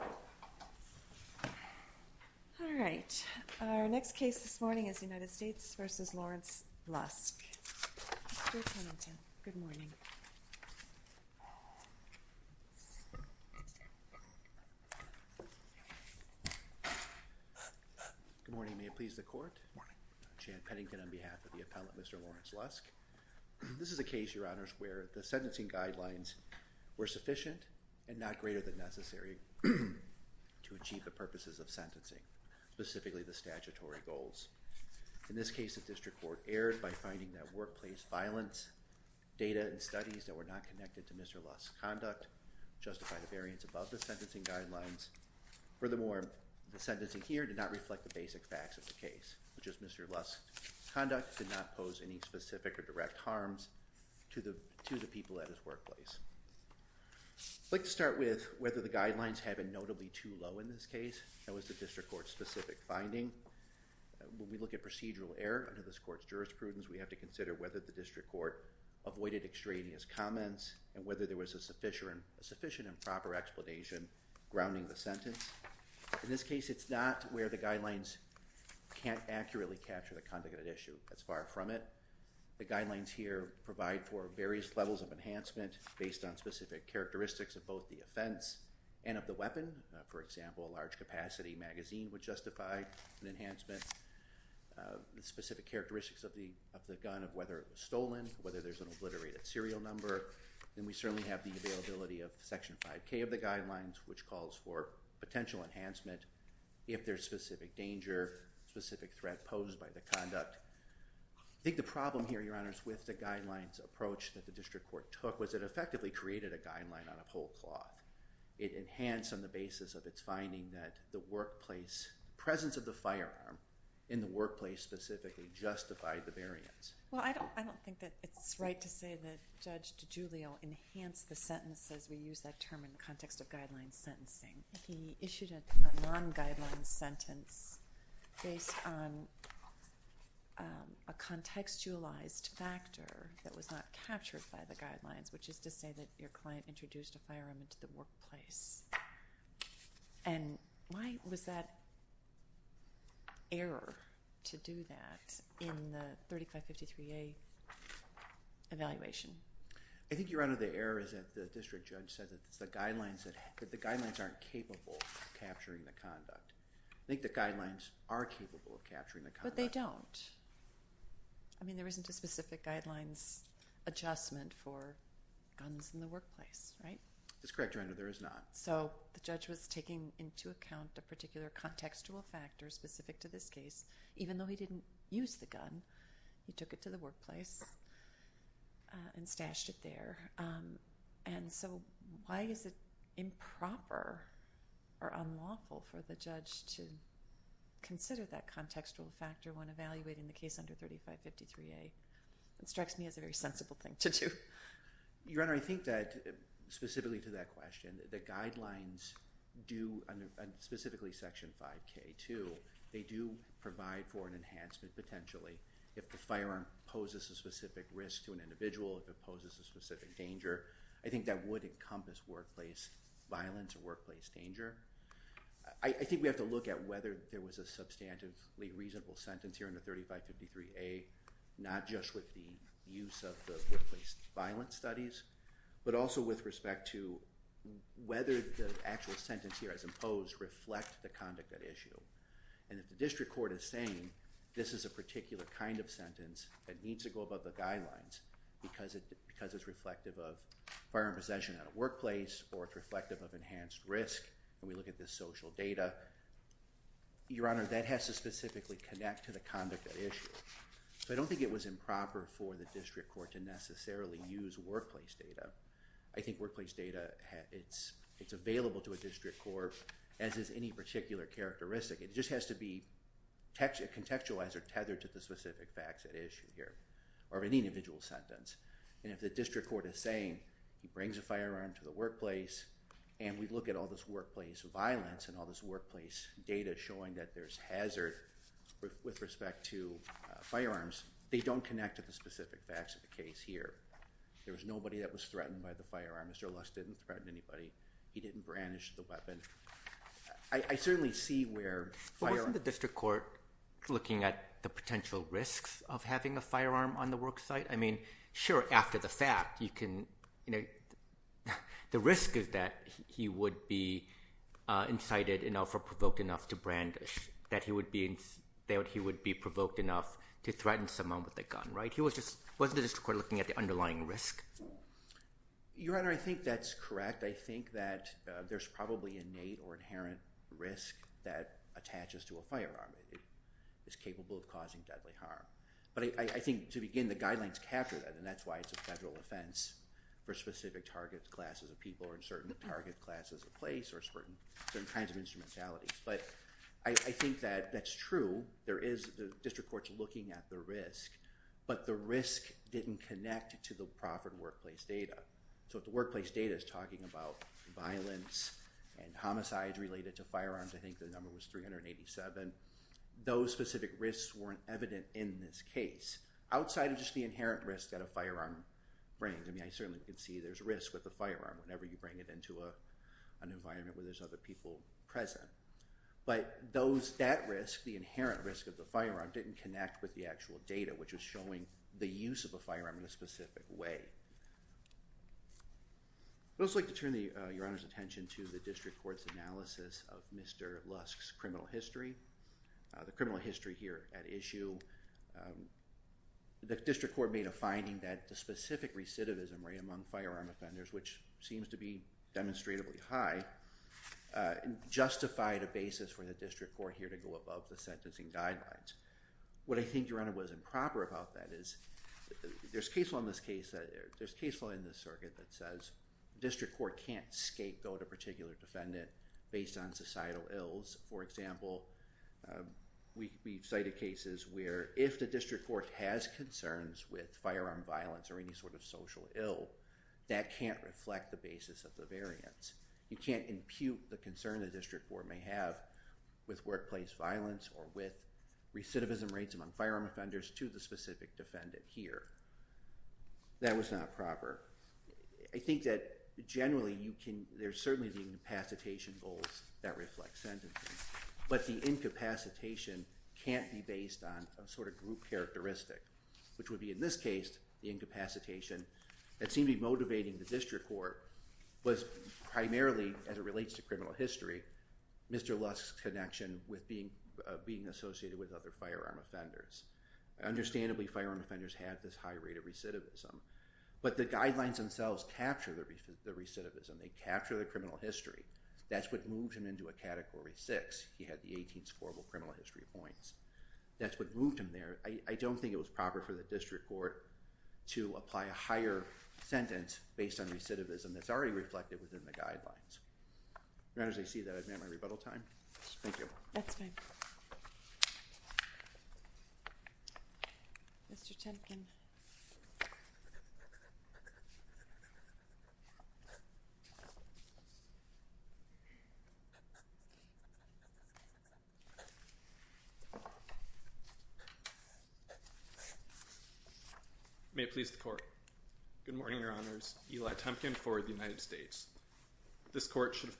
Good morning. May it please the Court. Jan Pennington on behalf of the Appellant, Mr. Lawrence Lusk. This is a case, Your Honors, where the sentencing guidelines were sufficient and not greater than necessary to achieve the purposes of sentencing, specifically the statutory goals. In this case, the District Court erred by finding that workplace violence, data, and studies that were not connected to Mr. Lusk's conduct justified a variance above the sentencing guidelines. Furthermore, the sentencing here did not reflect the basic facts of the case, which is Mr. Lusk's conduct did not pose any specific or direct harms to the people at his workplace. I'd like to start with whether the guidelines have been notably too low in this case. That was the District Court's specific finding. When we look at procedural error under this Court's jurisprudence, we have to consider whether the District Court avoided extraneous comments and whether there was a sufficient and proper explanation grounding the sentence. In this case, it's not where the guidelines can't accurately capture the various levels of enhancement based on specific characteristics of both the offense and of the weapon. For example, a large-capacity magazine would justify an enhancement, the specific characteristics of the gun, of whether it was stolen, whether there's an obliterated serial number. Then we certainly have the availability of Section 5K of the guidelines, which calls for potential enhancement if there's specific danger, specific threat posed by the conduct. I think the District Court took was it effectively created a guideline on a whole cloth. It enhanced on the basis of its finding that the workplace presence of the firearm in the workplace specifically justified the variance. Well, I don't think that it's right to say that Judge DiGiulio enhanced the sentence as we use that term in the context of guideline sentencing. He issued a non-guideline sentence based on a contextualized factor that was not captured by the guidelines, which is to say that your client introduced a firearm into the workplace. And why was that error to do that in the 3553A evaluation? I think you're under the error is that the district judge said that the guidelines aren't capable of capturing the conduct. I think the guidelines are capable of capturing the conduct. But they don't. I mean there isn't a specific guidelines adjustment for guns in the workplace, right? That's correct, Your Honor, there is not. So the judge was taking into account a particular contextual factor specific to this case, even though he didn't use the gun. He took it to the workplace and stashed it there. And so why is it improper or unlawful for the judge to consider that contextual factor when evaluating the case under 3553A? It strikes me as a very sensible thing to do. Your Honor, I think that specifically to that question, the guidelines do, specifically Section 5K2, they do provide for an enhancement potentially if the firearm poses a specific risk to an individual, if it poses a specific danger. I think that would encompass workplace violence or workplace danger. I think we have to look at whether there was a substantively reasonable sentence here in the 3553A, not just with the workplace violence studies, but also with respect to whether the actual sentence here as imposed reflect the conduct at issue. And if the district court is saying this is a particular kind of sentence that needs to go above the guidelines because it's reflective of firearm possession at a workplace or it's reflective of enhanced risk, and we look at this social data, Your Honor, that has to specifically connect to the conduct at issue. So I don't think it was improper for the district court to necessarily use workplace data. I think workplace data, it's available to a district court as is any particular characteristic. It just has to be contextualized or tethered to the specific facts at issue here or any individual sentence. And if the district court is saying, he brings a firearm to the workplace and we look at all this workplace violence and all this workplace data showing that there's hazard with respect to firearms, they don't connect to the facts of the case here. There was nobody that was threatened by the firearm. Mr. Lusk didn't threaten anybody. He didn't brandish the weapon. I certainly see where firearms- Wasn't the district court looking at the potential risks of having a firearm on the worksite? I mean, sure, after the fact, you can, you know, the risk is that he would be incited enough or provoked enough to brandish, that he would be provoked enough to threaten someone with a gun, right? Wasn't the district court looking at the underlying risk? Your Honor, I think that's correct. I think that there's probably innate or inherent risk that attaches to a firearm. It is capable of causing deadly harm. But I think to begin, the guidelines capture that and that's why it's a federal offense for specific target classes of people or in certain target classes of place or certain kinds of instrumentalities. But I think that's true. The district court's looking at the risk, but the risk didn't connect to the proffered workplace data. So if the workplace data is talking about violence and homicides related to firearms, I think the number was 387. Those specific risks weren't evident in this case, outside of just the inherent risk that a firearm brings. I mean, I certainly can see there's risk with a firearm whenever you bring it into an environment where there's other people present. But that risk, the inherent risk of the firearm, didn't connect with the actual data, which was showing the use of a firearm in a specific way. I'd also like to turn your Honor's attention to the district court's analysis of Mr. Lusk's criminal history. The criminal history here at issue, the district court made a finding that the specific recidivism rate among firearm offenders, which seems to be demonstrably high, justified a basis for the district court here to go above the sentencing guidelines. What I think, Your Honor, was improper about that is, there's case law in this case, there's case law in this circuit that says district court can't scapegoat a particular defendant based on societal ills. For example, we've cited cases where if the district court has concerns with firearm violence or any sort of social ill, that can't reflect the basis of the variance. You can't impute the concern the district court may have with workplace violence or with recidivism rates among firearm offenders to the specific defendant here. That was not proper. I think that generally you can, there's certainly the incapacitation goals that reflect sentencing, but the incapacitation can't be based on a sort of group characteristic, which would be in this case, the incapacitation that seemed to be motivating the district court was primarily, as it relates to criminal history, Mr. Lusk's connection with being associated with other firearm offenders. Understandably, firearm offenders have this high rate of recidivism, but the guidelines themselves capture the recidivism. They capture the criminal history. That's what moves him into a category six. He had the 18th horrible criminal history points. That's what moved him there. I don't think it was proper for the district court to apply a higher sentence based on recidivism that's already reflected within the guidelines. As I see that I've met my rebuttal time. Thank you. That's fine. Mr. Tempkin. May it please the court. Good morning, your honors. Eli Tempkin for the United States. This court should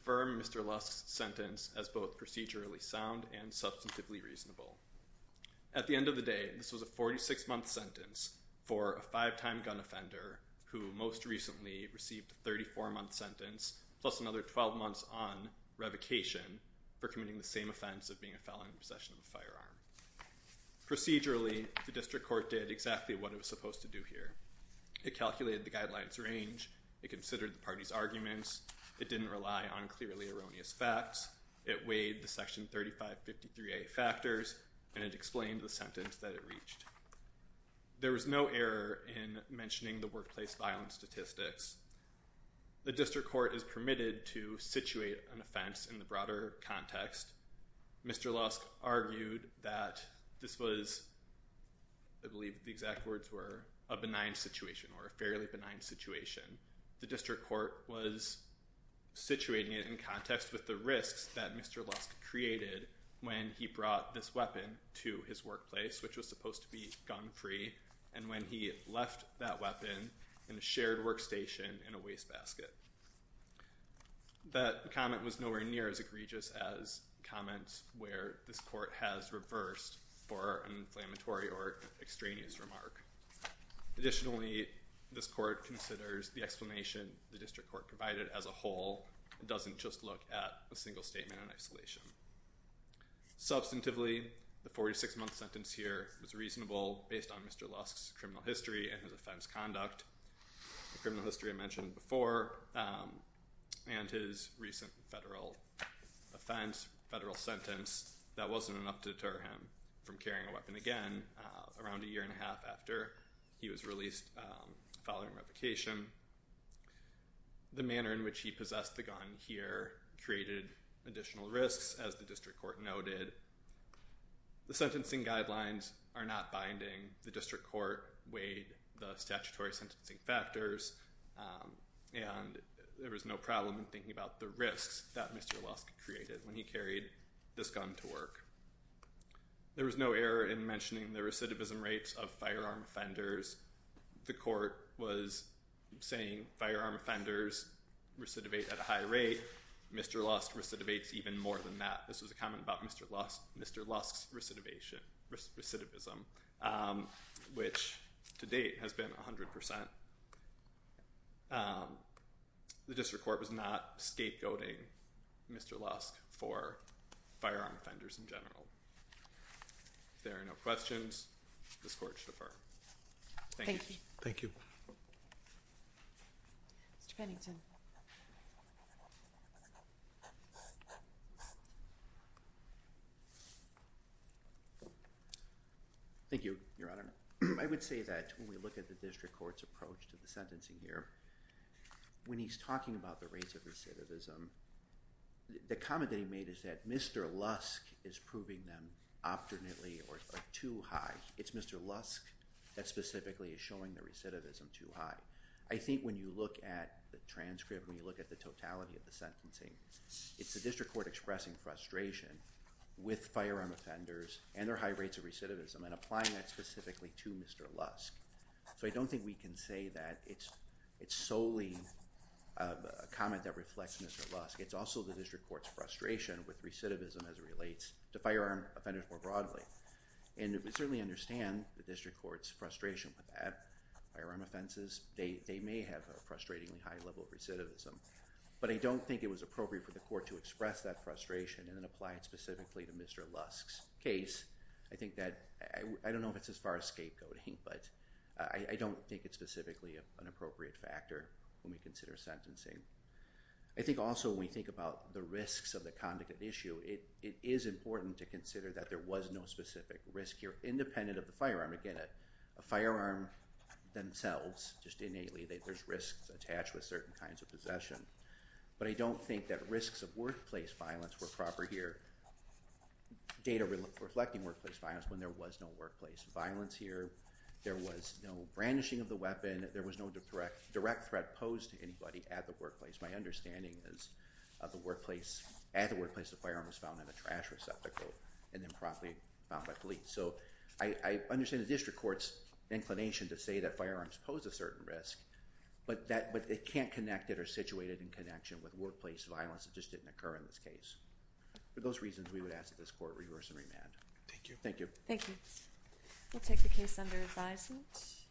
At the end of the day, this was a 46-month sentence for a five-time gun offender who most recently received a 34-month sentence plus another 12 months on revocation for committing the same offense of being a felon in possession of a firearm. Procedurally, the district court did exactly what it was supposed to do here. It calculated the guidelines range. It considered the party's arguments. It didn't rely on clearly erroneous facts. It weighed the section 3553A factors and it explained the sentence that it reached. There was no error in mentioning the workplace violence statistics. The district court is permitted to situate an offense in the broader context. Mr. Lusk argued that this was, I believe the exact words were, a benign situation or a situation where the court was situating it in context with the risks that Mr. Lusk created when he brought this weapon to his workplace, which was supposed to be gun-free, and when he left that weapon in a shared workstation in a wastebasket. That comment was nowhere near as egregious as comments where this court has reversed for an inflammatory or extraneous remark. Additionally, this court considers the explanation the district court provided as a whole. It doesn't just look at a single statement in isolation. Substantively, the 46-month sentence here was reasonable based on Mr. Lusk's criminal history and his offense conduct. The criminal history I mentioned before and his recent federal offense, federal sentence, that wasn't enough to deter him from carrying a weapon again around a vacation. The manner in which he possessed the gun here created additional risks, as the district court noted. The sentencing guidelines are not binding. The district court weighed the statutory sentencing factors, and there was no problem in thinking about the risks that Mr. Lusk created when he carried this gun to work. There was no error in mentioning the recidivism rates of firearm offenders. The court was saying firearm offenders recidivate at a high rate. Mr. Lusk recidivates even more than that. This was a comment about Mr. Lusk's recidivism, which to date has been 100%. The district court was not scapegoating Mr. Lusk for firearm offenders in general. If there Thank you. Thank you. Thank you, Your Honor. I would say that when we look at the district court's approach to the sentencing here, when he's talking about the rates of recidivism, the comment that he made is that Mr. Lusk is proving them optimally or too high. It's Mr. Lusk that specifically is showing the recidivism too high. I think when you look at the transcript, when you look at the totality of the sentencing, it's the district court expressing frustration with firearm offenders and their high rates of recidivism and applying that specifically to Mr. Lusk. So I don't think we can say that it's solely a comment that reflects Mr. Lusk. It's also the district court's frustration with recidivism as it relates to firearm offenders more broadly. And we certainly understand the district court's frustration with that. Firearm offenses, they may have a frustratingly high level of recidivism, but I don't think it was appropriate for the court to express that frustration and then apply it specifically to Mr. Lusk's case. I think that, I don't know if it's as far as scapegoating, but I don't think it's specifically an appropriate factor when we consider sentencing. I think also when we think about the risks of the conduct of the issue, it is important to consider that there was no specific risk here, independent of the firearm. Again, a firearm themselves, just innately, there's risks attached with certain kinds of possession. But I don't think that risks of workplace violence were proper here. Data reflecting workplace violence when there was no workplace violence here. There was no brandishing of the weapon. There was no direct threat posed to anybody at the workplace. My understanding is at the workplace, the firearm was found in a trash receptacle and then promptly found by police. So I understand the district court's inclination to say that firearms pose a certain risk, but it can't connect it or situate it in connection with workplace violence. It just didn't occur in this case. For those reasons, we would ask that this court reverse and remand. Thank you. Thank you. We'll take the case under advisement.